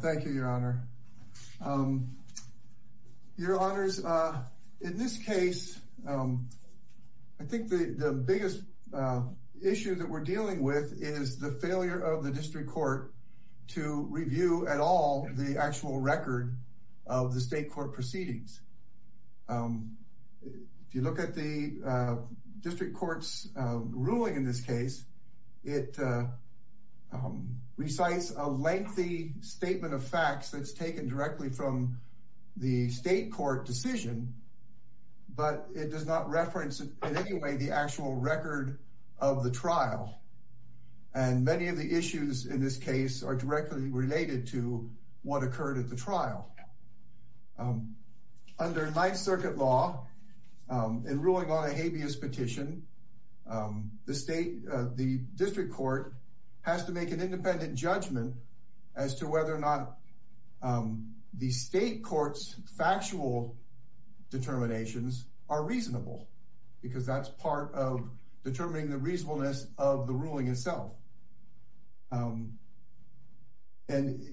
Thank you, Your Honor. Your Honors, in this case, I think the biggest issue that we're dealing with is the failure of the district court to review at all the actual record of the state court proceedings. If you look at the district court's ruling in this case, it recites a lengthy statement of facts that's taken directly from the state court decision, but it does not reference in any way the actual record of the trial. And many of the issues in this case are directly related to what occurred at the trial. Under Ninth Circuit law, in ruling on a habeas petition, the state, the independent judgment as to whether or not the state court's factual determinations are reasonable, because that's part of determining the reasonableness of the ruling itself. And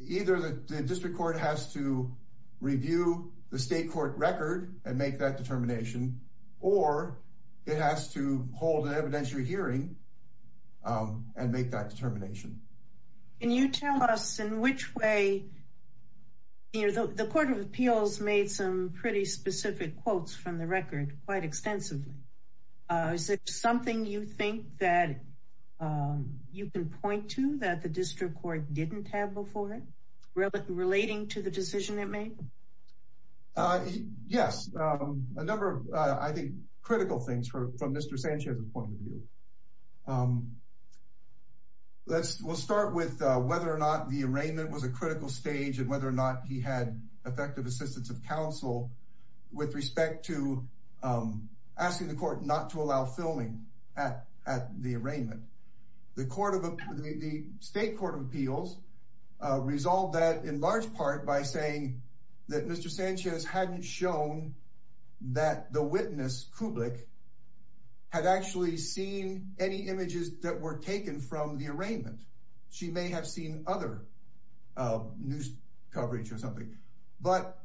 either the district court has to review the state court record and make that determination, or it has to hold an evidentiary hearing and make that determination. Can you tell us in which way, you know, the Court of Appeals made some pretty specific quotes from the record quite extensively. Is it something you think that you can point to that the district court didn't have before it, relating to the decision it made? Yes, a number of, I think, critical things from Mr. Sanchez's point of view. Let's, we'll start with whether or not the arraignment was a critical stage and whether or not he had effective assistance of counsel with respect to asking the court not to allow filming at the arraignment. The state court of appeals resolved that in large part by saying that Mr. Sanchez hadn't shown that the witness, Kublik, had actually seen any images that were taken from the arraignment. She may have seen other news coverage or something, but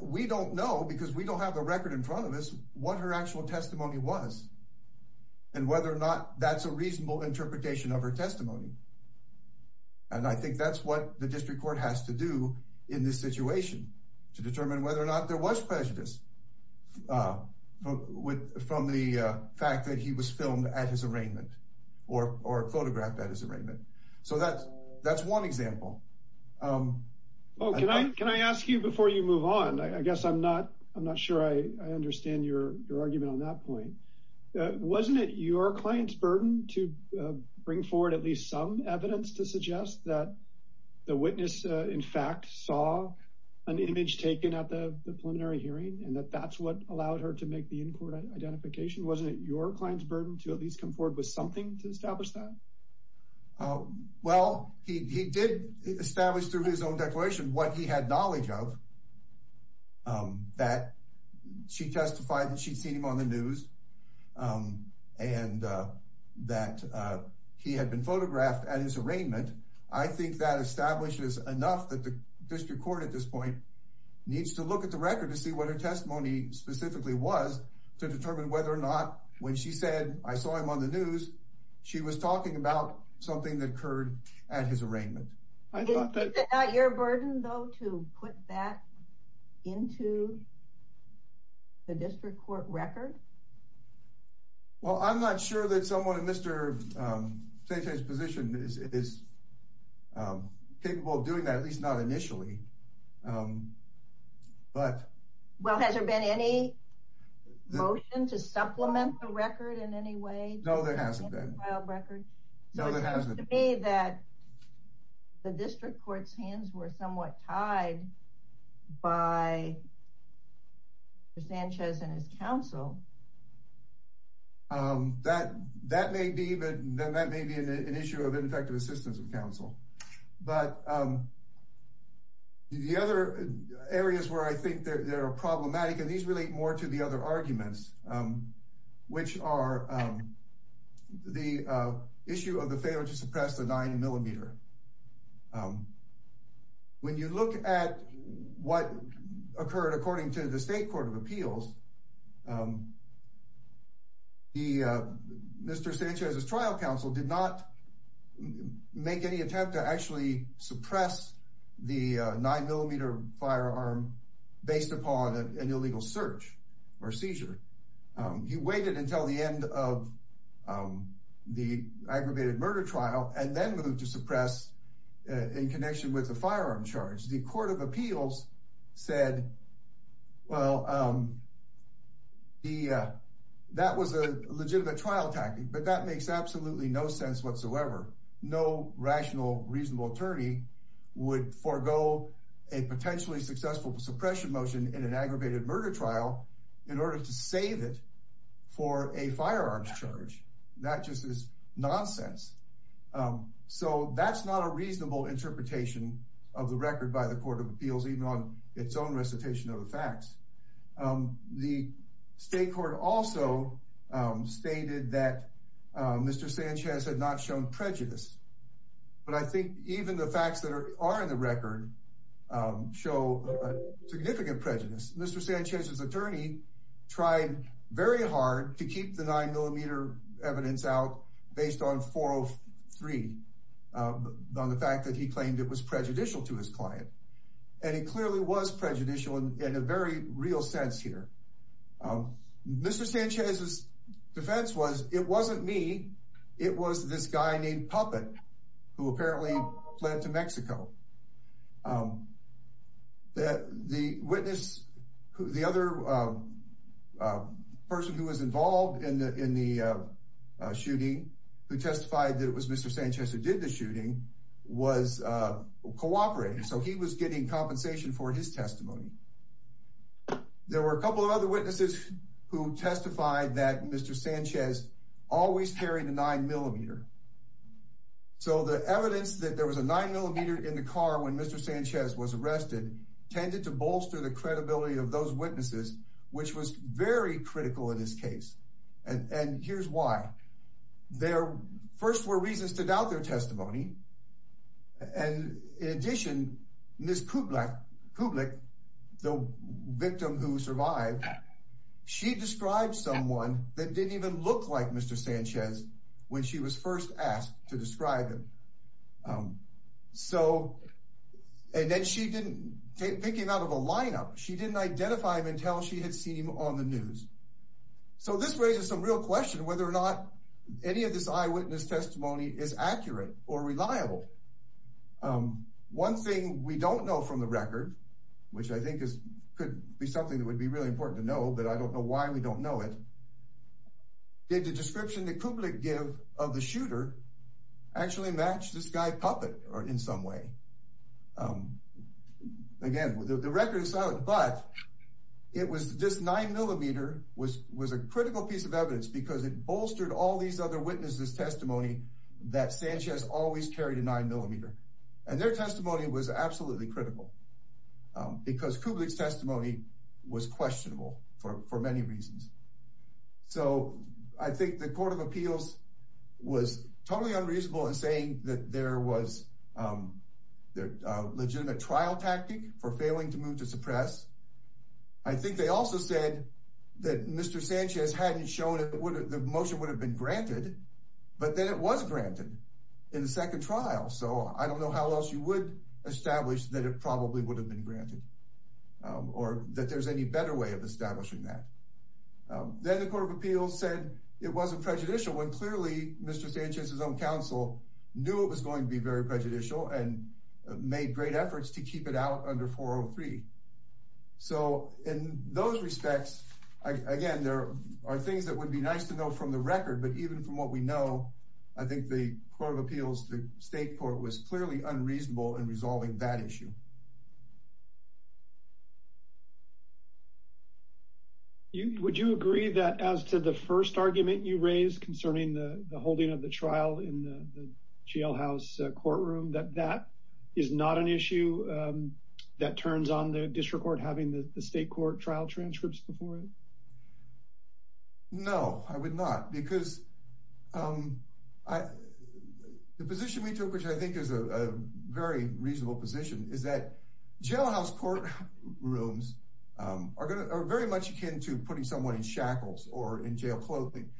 we don't know, because we don't have a record in front of us, what her actual testimony was and whether or not that's a reasonable interpretation of her testimony. And I think that's what the district court has to do in this situation, to force prejudice from the fact that he was filmed at his arraignment or photographed at his arraignment. So that's one example. Oh, can I ask you before you move on? I guess I'm not sure I understand your argument on that point. Wasn't it your client's burden to bring forward at least some evidence to suggest that the witness, in fact, saw an image taken at the preliminary hearing and that that's what allowed her to make the in-court identification? Wasn't it your client's burden to at least come forward with something to establish that? Well, he did establish through his own declaration what he had knowledge of, that she testified that she'd seen him on the news and that he had been photographed at his arraignment. I think that establishes enough that the look at the record to see what her testimony specifically was to determine whether or not when she said, I saw him on the news, she was talking about something that occurred at his arraignment. Is it not your burden, though, to put that into the district court record? Well, I'm not sure that someone in Mr. Sante's position is capable of doing that, at least not initially. Well, has there been any motion to supplement the record in any way? No, there hasn't been. So it seems to me that the district court's hands were somewhat tied by Mr. Sanchez and his counsel. That may be an issue of ineffective assistance of counsel, but the other areas where I think they're problematic, and these relate more to the other arguments, which are the issue of the failure to suppress the nine millimeter. When you look at what occurred according to the state court of appeals, the Mr. Sanchez's trial counsel did not make any attempt to actually suppress the nine millimeter firearm based upon an illegal search or seizure. He waited until the end of the aggravated murder trial, and then moved to suppress in connection with the firearm charge. The court of appeals said, well, that was a legitimate trial tactic, but that makes absolutely no sense whatsoever. No rational, reasonable attorney would forego a potentially successful suppression motion in an aggravated murder trial in order to save it for a firearms charge. That just is nonsense. So that's not a reasonable interpretation of the record by the court of appeals, even on its own recitation of the facts. The state court also stated that Mr. Sanchez had not shown prejudice, but I think even the facts that are in the record show significant prejudice. Mr. Sanchez's attorney tried very hard to keep the nine millimeter evidence out based on 403, on the fact that he claimed it was prejudicial to his client. And it clearly was prejudicial in a very real sense here. Mr. Sanchez's defense was, it wasn't me. It was this guy named Puppet, who apparently fled to Mexico. The witness, the other person who was involved in the shooting, who testified that it was Mr. Sanchez who did the shooting, was cooperating. So he was getting compensation for his testimony. There were a couple of other witnesses who testified that Mr. Sanchez always carried a nine millimeter. So the evidence that there was a nine millimeter in the car when Mr. Sanchez was arrested tended to bolster the credibility of those witnesses, which was very critical in this case. And here's why. There first were reasons to doubt their testimony. And in addition, Ms. Kublik, the victim who survived, she described someone that didn't even look like Mr. Sanchez when she was first asked to describe him. So, and then she didn't, thinking out of a lineup, she didn't identify him until she had seen him on the news. So this raises some real question whether or not any of this eyewitness testimony is accurate or reliable. One thing we don't know from the record, which I think is, could be something that would be really important to know, but I don't know why we don't know it. Did the description that Kublik give of the shooter actually match this guy puppet or in some way? Again, the record is silent, but it was this nine millimeter was, was a critical piece of evidence because it bolstered all these other witnesses testimony that Sanchez always carried a nine millimeter and their testimony was absolutely critical because Kublik's testimony was questionable for, for many reasons. So I think the court of appeals was totally unreasonable in saying that there was a legitimate trial tactic for failing to move to suppress. I think they also said that Mr. Sanchez's own counsel knew it was going to be very prejudicial and made great efforts to keep it out under 403. So in those respects, again, there are things that would be nice to know from the record, but even from what we know, I think the court of appeals, the state court was clearly unreasonable in resolving that issue. Would you agree that as to the first argument you raised concerning the holding of the trial in the jailhouse courtroom, that that is not an issue that turns on the district court having the state court trial transcripts before it? No, I would not because the position we took, which I think is a very reasonable position, is that jailhouse court rooms are very much akin to putting someone in shackles or in jail clothing.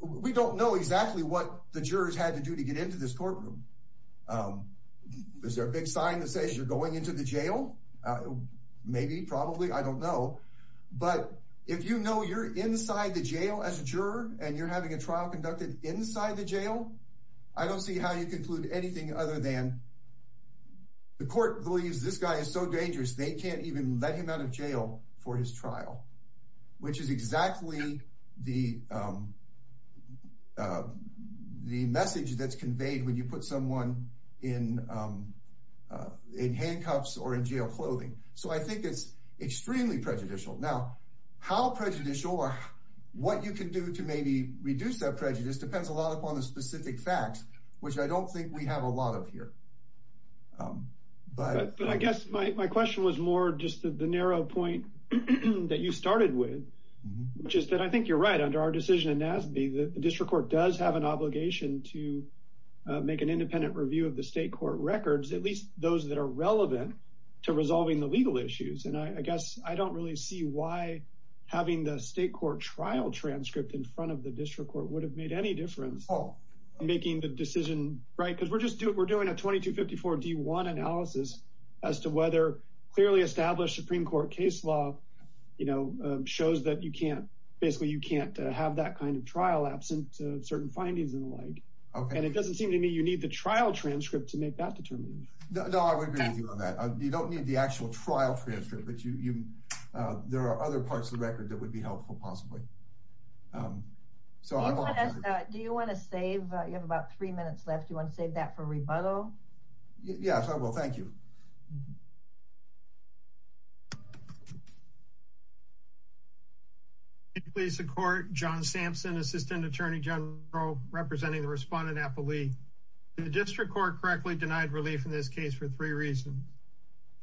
We don't know exactly what the jurors had to do to get into this courtroom. Is there a big sign that says you're going into the jail? Maybe, probably, I don't know. But if you know you're inside the jail as a juror and you're having a trial conducted inside the jail, I don't see how you conclude anything other than the court believes this guy is so dangerous they can't even let him out of jail for his trial, which is exactly the message that's conveyed when you put someone in handcuffs or in jail clothing. So I think it's extremely prejudicial. Now, how prejudicial or what you can do to maybe reduce that prejudice depends a lot upon the specific facts, which I don't think we have a lot of here. But I guess my question was more just the narrow point that you started with, which is that I think you're right, under our decision in NASB, the district court does have an obligation to make an independent review of the state court records, at resolving the legal issues. And I guess I don't really see why having the state court trial transcript in front of the district court would have made any difference in making the decision, right? Because we're doing a 2254 D1 analysis as to whether clearly established Supreme Court case law shows that basically you can't have that kind of trial absent certain findings and the like. And it doesn't seem to me you need the trial transcript to make that determination. No, I would agree with you on that. You don't need the actual trial transcript, but there are other parts of the record that would be helpful possibly. So I'm- Do you want to save, you have about three minutes left, do you want to save that for rebuttal? Yes, I will, thank you. Please support John Sampson, Assistant Attorney General, representing the respondent, Apple Lee. The district court correctly denied relief in this case for three reasons.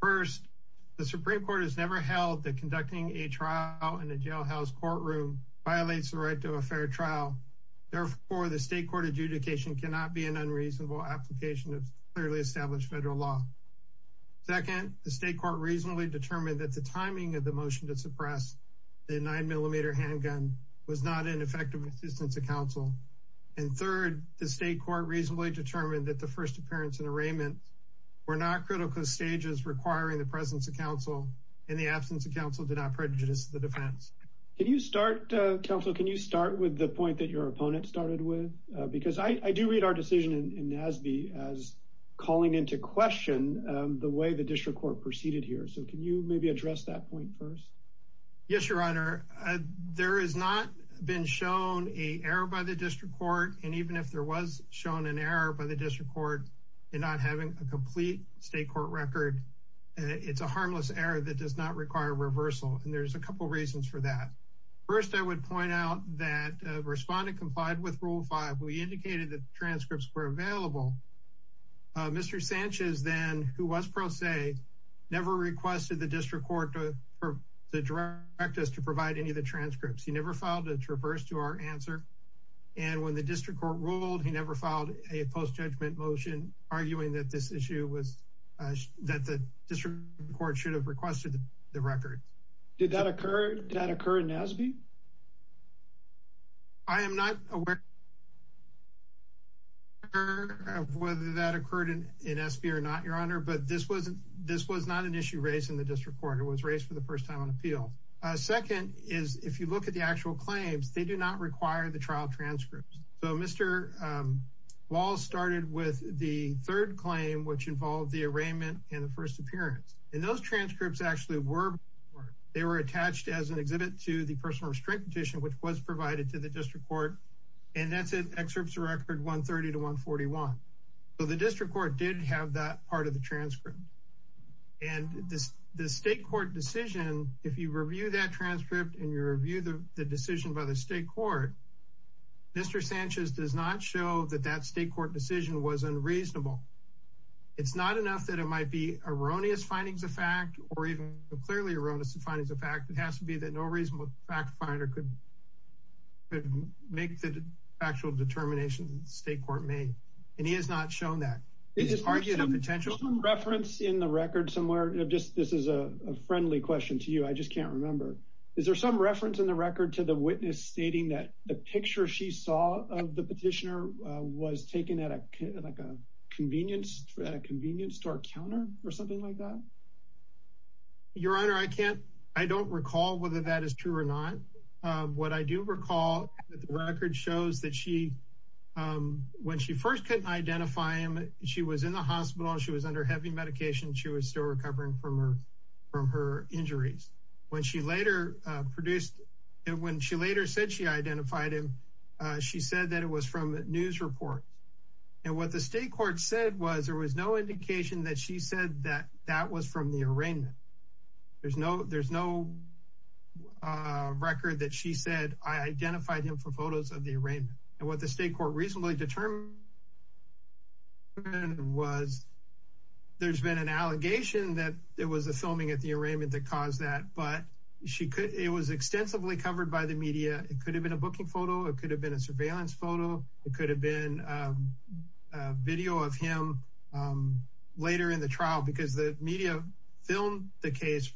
First, the Supreme Court has never held that conducting a trial in a jailhouse courtroom violates the right to a fair trial. Therefore, the state court adjudication cannot be an unreasonable application of clearly established federal law. Second, the state court reasonably determined that the timing of the motion to suppress the nine millimeter handgun was not an effective assistance to counsel. And third, the state court reasonably determined that the first appearance and arraignment were not critical stages requiring the presence of counsel and the absence of counsel did not prejudice the defense. Can you start, counsel, can you start with the point that your opponent started with? Because I do read our decision in NASB as calling into question the way the district court proceeded here. So can you maybe address that point first? Yes, your honor. There has not been shown a error by the district court. And even if there was shown an error by the district court in not having a complete state court record, it's a harmless error that does not require reversal. And there's a couple reasons for that. First, I would point out that the respondent complied with rule five. We indicated that transcripts were available. Mr. Sanchez then, who was pro se, never requested the district court for direct us to provide any of the transcripts. He never filed a traverse to our answer. And when the district court ruled, he never filed a post judgment motion arguing that this issue was, that the district court should have requested the record. Did that occur in NASB? I am not aware of whether that occurred in NASB or not, your honor. But this was not an issue raised in the district court. It was raised for the first time on appeal. Second is, if you look at the actual claims, they do not require the trial transcripts. So Mr. Walls started with the third claim, which involved the arraignment and the first appearance. And those transcripts actually were, they were attached as an exhibit to the personal restraint petition, which was provided to the district court. And that's an excerpt to record 130 to 141. So the district court did have that part of the transcript. And the state court decision, if you review that transcript and you review the decision by the state court, Mr. Sanchez does not show that that state court decision was unreasonable. It's not enough that it might be erroneous findings of fact or even clearly erroneous findings of fact. It has to be that no reasonable fact finder could make the actual determination that the state court made. And he has not shown that. Is there some reference in the record somewhere, just this is a friendly question to you, I just can't remember. Is there some reference in the record to the witness stating that the picture she saw of the petitioner was taken at a convenience store counter or something like that? Your Honor, I don't recall whether that is true or not. What I do recall, the record shows that when she first couldn't identify him, she was in the hospital, she was under heavy medication, she was still recovering from her injuries. When she later produced, when she later said she identified him, she said that it was from news reports. And what the state court said was there was no indication that she said that that was from the arraignment. There's no record that she said I identified him for photos of the arraignment. And what the state court reasonably determined was there's been an allegation that there was a filming at the arraignment that caused that. But it was extensively covered by the media. It could have been a booking photo, it could have been a surveillance photo, it could have been a video of him later in the trial. Because the media filmed the case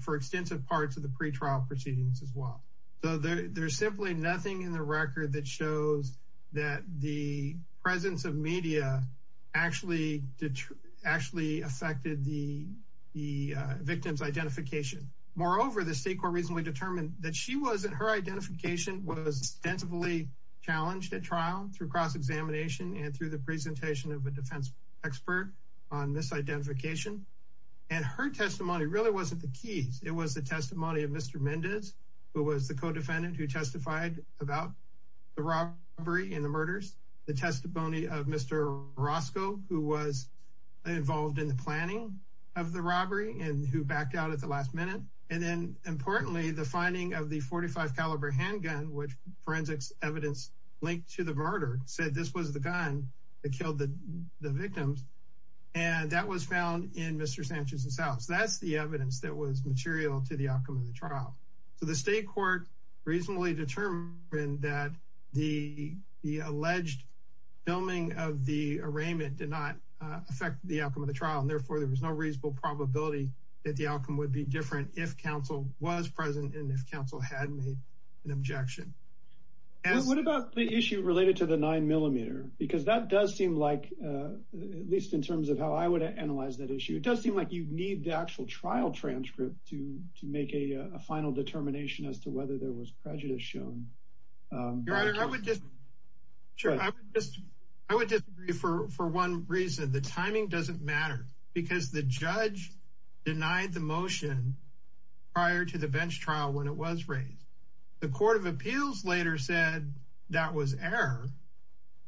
for extensive parts of the pretrial proceedings as well. So there's simply nothing in the record that shows that the presence of media actually affected the victim's identification. Moreover, the state court reasonably determined that her identification was extensively challenged at trial through cross-examination and through the presentation of a defense expert on this identification. And her testimony really wasn't the keys, it was the testimony of Mr. Mendez, who was the co-defendant who testified about the robbery and the murders. The testimony of Mr. Roscoe, who was involved in the planning of the robbery and who backed out at the last minute. And then importantly, the finding of the .45 caliber handgun, which forensics evidence linked to the murder, said this was the gun that killed the victims. And that was found in Mr. Sanchez's house. That's the evidence that was material to the outcome of the trial. So the state court reasonably determined that the alleged filming of the arraignment did not affect the outcome of the trial. And therefore, there was no reasonable probability that the outcome would be different if counsel was present and if counsel had made an objection. What about the issue related to the 9mm? Because that does seem like, at least in terms of how I would analyze that issue, it does seem like you'd need the actual trial transcript to make a final determination as to whether there was prejudice shown. Your Honor, I would disagree for one reason. The timing doesn't matter because the judge denied the motion prior to the bench trial when it was raised. The Court of Appeals later said that was error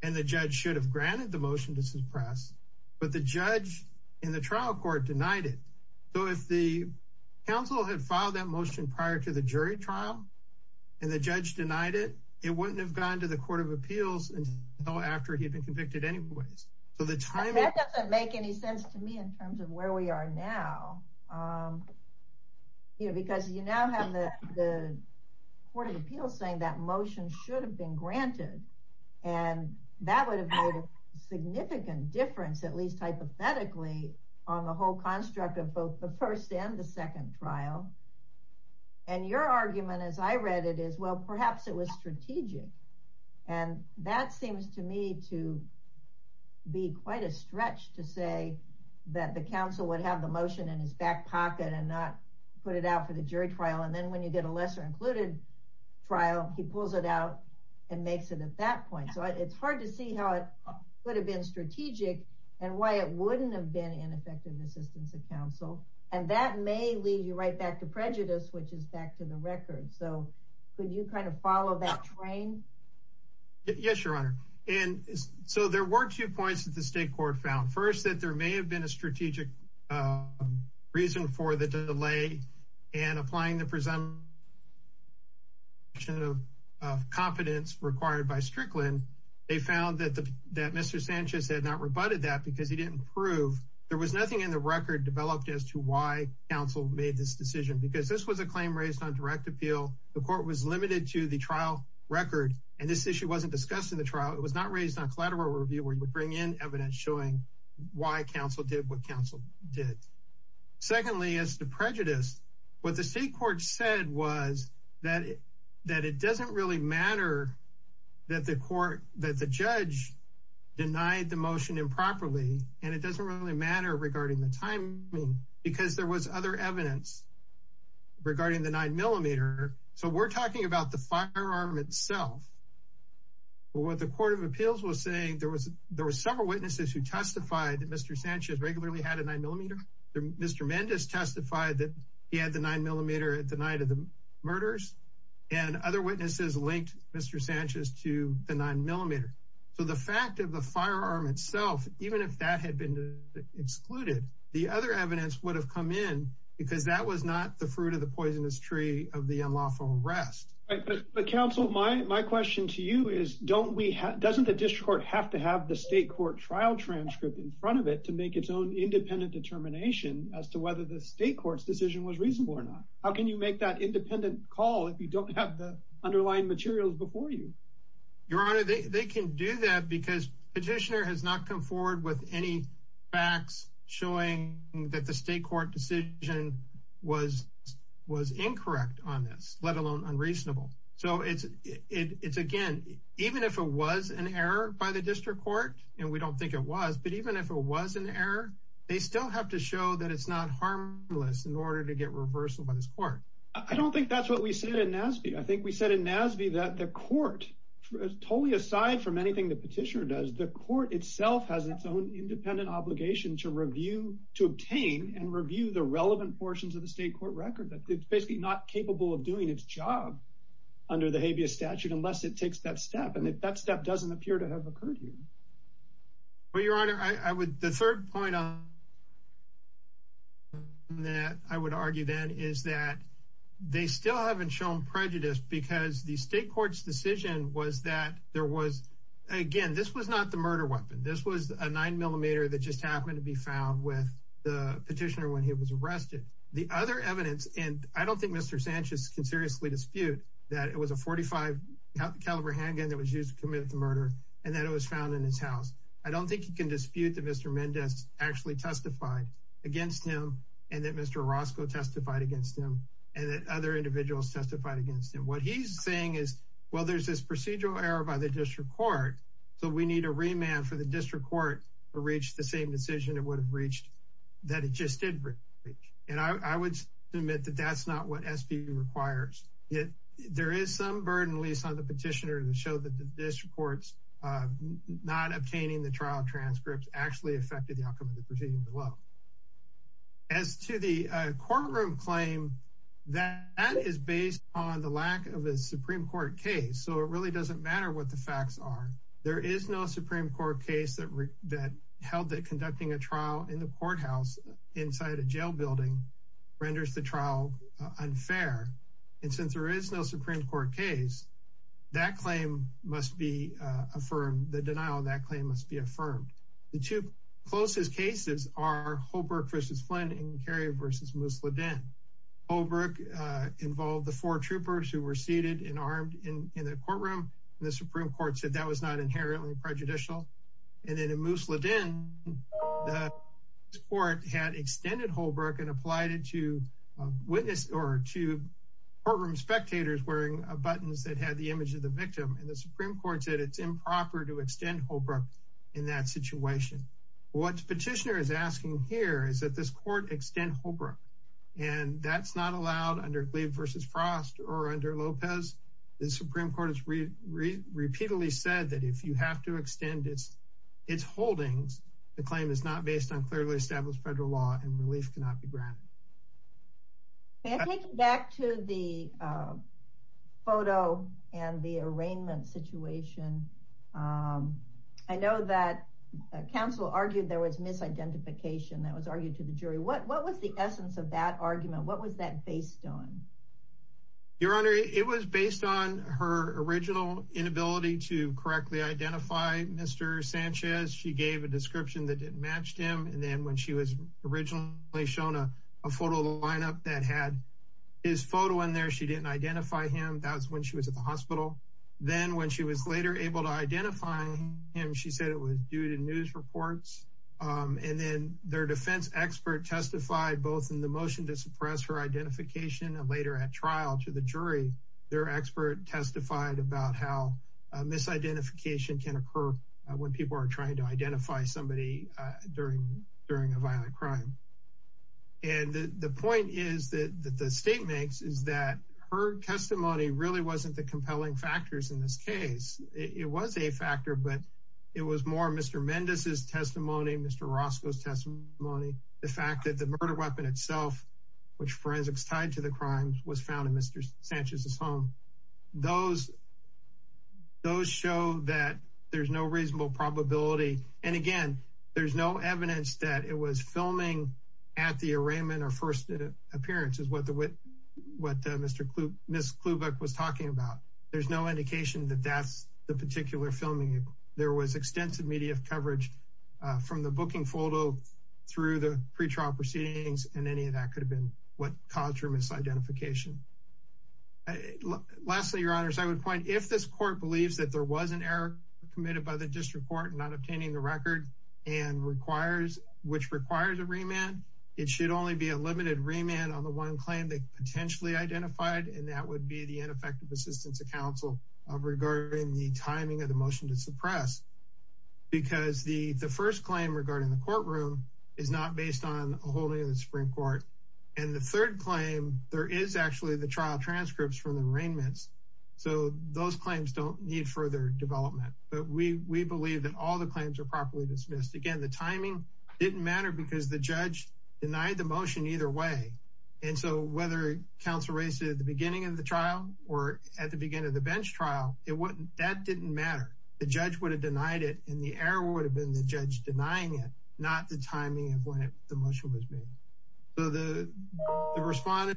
and the judge should have granted the motion to suppress. But the judge in the trial court denied it. So if the counsel had filed that motion prior to the jury trial and the judge denied it, it wouldn't have gone to the Court of Appeals until after he'd been convicted anyways. So the timing- That doesn't make any sense to me in terms of where we are now. Because you now have the Court of Appeals saying that motion should have been at least hypothetically on the whole construct of both the first and the second trial. And your argument as I read it is, well, perhaps it was strategic. And that seems to me to be quite a stretch to say that the counsel would have the motion in his back pocket and not put it out for the jury trial. And then when you get a lesser included trial, he pulls it out and makes it at that point. So it's hard to see how it would have been strategic and why it wouldn't have been an effective assistance of counsel. And that may lead you right back to prejudice, which is back to the record. So could you kind of follow that train? Yes, Your Honor. And so there were two points that the state court found. First, that there may have been a strategic reason for the delay and applying the presumption of competence required by Strickland. They found that Mr. Sanchez had not rebutted that because he didn't prove. There was nothing in the record developed as to why counsel made this decision. Because this was a claim raised on direct appeal. The court was limited to the trial record and this issue wasn't discussed in the trial. It was not raised on collateral review where you would bring in evidence showing why counsel did what counsel did. Secondly, as to prejudice, what the state court said was that it doesn't really matter that the judge denied the motion improperly. And it doesn't really matter regarding the timing, because there was other evidence regarding the nine millimeter. So we're talking about the firearm itself. What the Court of Appeals was saying, there were several witnesses who testified that Mr. Sanchez regularly had a nine millimeter. Mr. Mendez testified that he had the nine millimeter at the night of the murders. And other witnesses linked Mr. Sanchez to the nine millimeter. So the fact of the firearm itself, even if that had been excluded, the other evidence would have come in because that was not the fruit of the poisonous tree of the unlawful arrest. But counsel, my question to you is, doesn't the district court have to have the state court trial transcript in front of it to make its own independent determination as to whether the state court's decision was reasonable or not? How can you make that independent call if you don't have the underlying materials before you? Your Honor, they can do that because petitioner has not come forward with any facts showing that the state court decision was incorrect on this, let alone unreasonable. So it's again, even if it was an error by the district court, and we don't think it was, but even if it was an error, they still have to show that it's not harmless in order to get reversal by this court. I don't think that's what we said in NASB. I think we said in NASB that the court, totally aside from anything the petitioner does, the court itself has its own independent obligation to review, to obtain and review the relevant portions of the state court record. It's basically not capable of doing its job under the habeas statute unless it takes that step. And if that step doesn't appear to have occurred here. Well, Your Honor, the third point that I would argue then is that they still haven't shown prejudice because the state court's decision was that there was, again, this was not the murder weapon. This was a nine millimeter that just happened to be found with the petitioner when he was arrested. The other evidence, and I don't think Mr. Sanchez can seriously dispute that it was a .45 caliber handgun that was used to commit the murder, and that it was found in his house. I don't think he can dispute that Mr. Mendez actually testified against him, and that Mr. Orozco testified against him, and that other individuals testified against him. What he's saying is, well, there's this procedural error by the district court, so we need a remand for the district court to reach the same decision it would reach. And I would submit that that's not what SB requires. There is some burden, at least on the petitioner, to show that the district court's not obtaining the trial transcripts actually affected the outcome of the proceeding below. As to the courtroom claim, that is based on the lack of a Supreme Court case. So it really doesn't matter what the facts are. There is no Supreme Court case that held that conducting a trial in the courthouse inside a jail building renders the trial unfair. And since there is no Supreme Court case, that claim must be affirmed, the denial of that claim must be affirmed. The two closest cases are Holbrook versus Flynn and Cary versus Musladin. Holbrook involved the four troopers who were seated and armed in the courtroom, and the Supreme Court said that was not inherently prejudicial. And then in Musladin, the Supreme Court had extended Holbrook and applied it to courtroom spectators wearing buttons that had the image of the victim, and the Supreme Court said it's improper to extend Holbrook in that situation. What the petitioner is asking here is that this court extend Holbrook, and that's not allowed under Gleave versus Frost or under Lopez. The Supreme Court has repeatedly said that if you have to extend its holdings, the claim is not based on clearly established federal law and relief cannot be granted. And taking back to the photo and the arraignment situation, I know that counsel argued there was misidentification that was argued to the jury. What was the essence of that argument? What was that based on? Your Honor, it was based on her original inability to correctly identify Mr. Sanchez. She gave a description that didn't match him, and then when she was originally shown a photo of the lineup that had his photo in there, she didn't identify him. That was when she was at the hospital. Then when she was later able to identify him, she said it was due to news reports. And then their defense expert testified both in the motion to suppress her later at trial to the jury. Their expert testified about how misidentification can occur when people are trying to identify somebody during a violent crime. And the point is that the state makes is that her testimony really wasn't the compelling factors in this case. It was a factor, but it was more Mr. Mendez's testimony, Mr. Roscoe's testimony. The fact that the murder weapon itself, which forensics tied to the crimes, was found in Mr. Sanchez's home, those show that there's no reasonable probability. And again, there's no evidence that it was filming at the arraignment or first appearance is what Ms. Klubeck was talking about. There's no indication that that's the particular filming. There was extensive media coverage from the booking photo through the pretrial proceedings, and any of that could have been what caused her misidentification. Lastly, your honors, I would point, if this court believes that there was an error committed by the district court in not obtaining the record, which requires a remand, it should only be a limited remand on the one claim they potentially identified, and that would be the ineffective assistance of counsel regarding the timing of the motion to suppress. Because the first claim regarding the courtroom is not based on a holding of the Supreme Court. And the third claim, there is actually the trial transcripts from the arraignments, so those claims don't need further development. But we believe that all the claims are properly dismissed. Again, the timing didn't matter because the judge denied the motion either way. And so whether counsel raised it at the beginning of the trial or at the beginning of the bench trial, that didn't matter. The judge would have denied it, and the error would have been the judge denying it, not the timing of when the motion was made. So the response is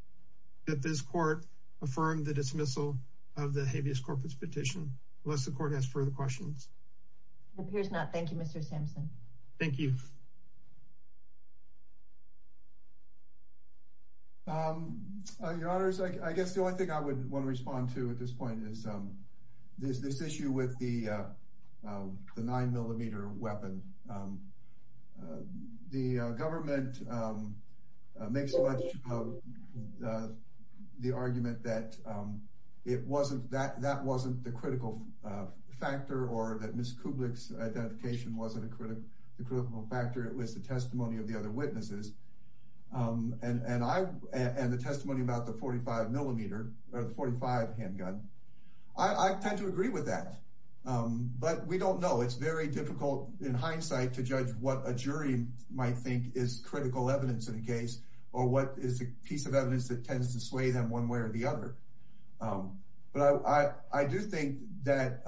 that this court affirmed the dismissal of the habeas corpus petition, unless the court has further questions. It appears not. Thank you, Mr. Sampson. Thank you. Your Honor, I guess the only thing I would want to respond to at this point is this issue with the 9-millimeter weapon. The government makes the argument that that wasn't the critical factor, or that Ms. Kublik's identification wasn't a critical factor. It was the testimony of the other witnesses and the testimony about the 45-millimeter, or the 45 handgun. I tend to agree with that, but we don't know. It's very difficult, in hindsight, to judge what a jury might think is critical evidence in a case, or what is a piece of evidence that tends to sway them one way or the other. But I do think that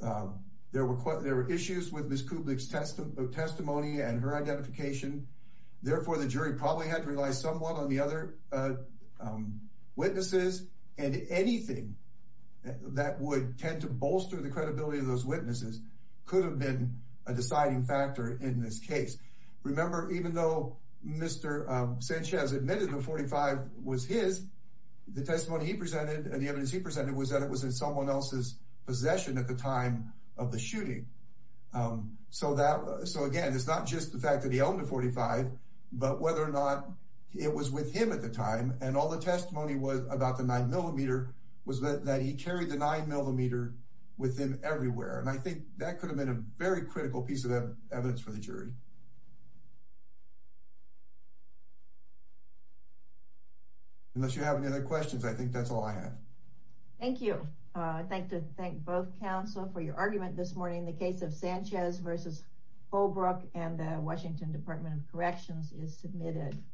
there were issues with Ms. Kublik's testimony and her identification. Therefore, the jury probably had to rely somewhat on the other witnesses. And anything that would tend to bolster the credibility of those witnesses could have been a deciding factor in this case. Remember, even though Mr. Sanchez admitted the 45 was his, the testimony he presented and the evidence he presented was that it was in someone else's possession at the time of the shooting. So, again, it's not just the fact that he owned the 45, but whether or not it was with him at the time. And all the testimony was about the 9-millimeter was that he carried the 9-millimeter with him everywhere. And I think that could have been a very critical piece of evidence for the jury. Unless you have any other questions, I think that's all I have. Thank you. I'd like to thank both counsel for your argument this morning. The case of Sanchez v. Holbrook and the Washington Department of Corrections is submitted.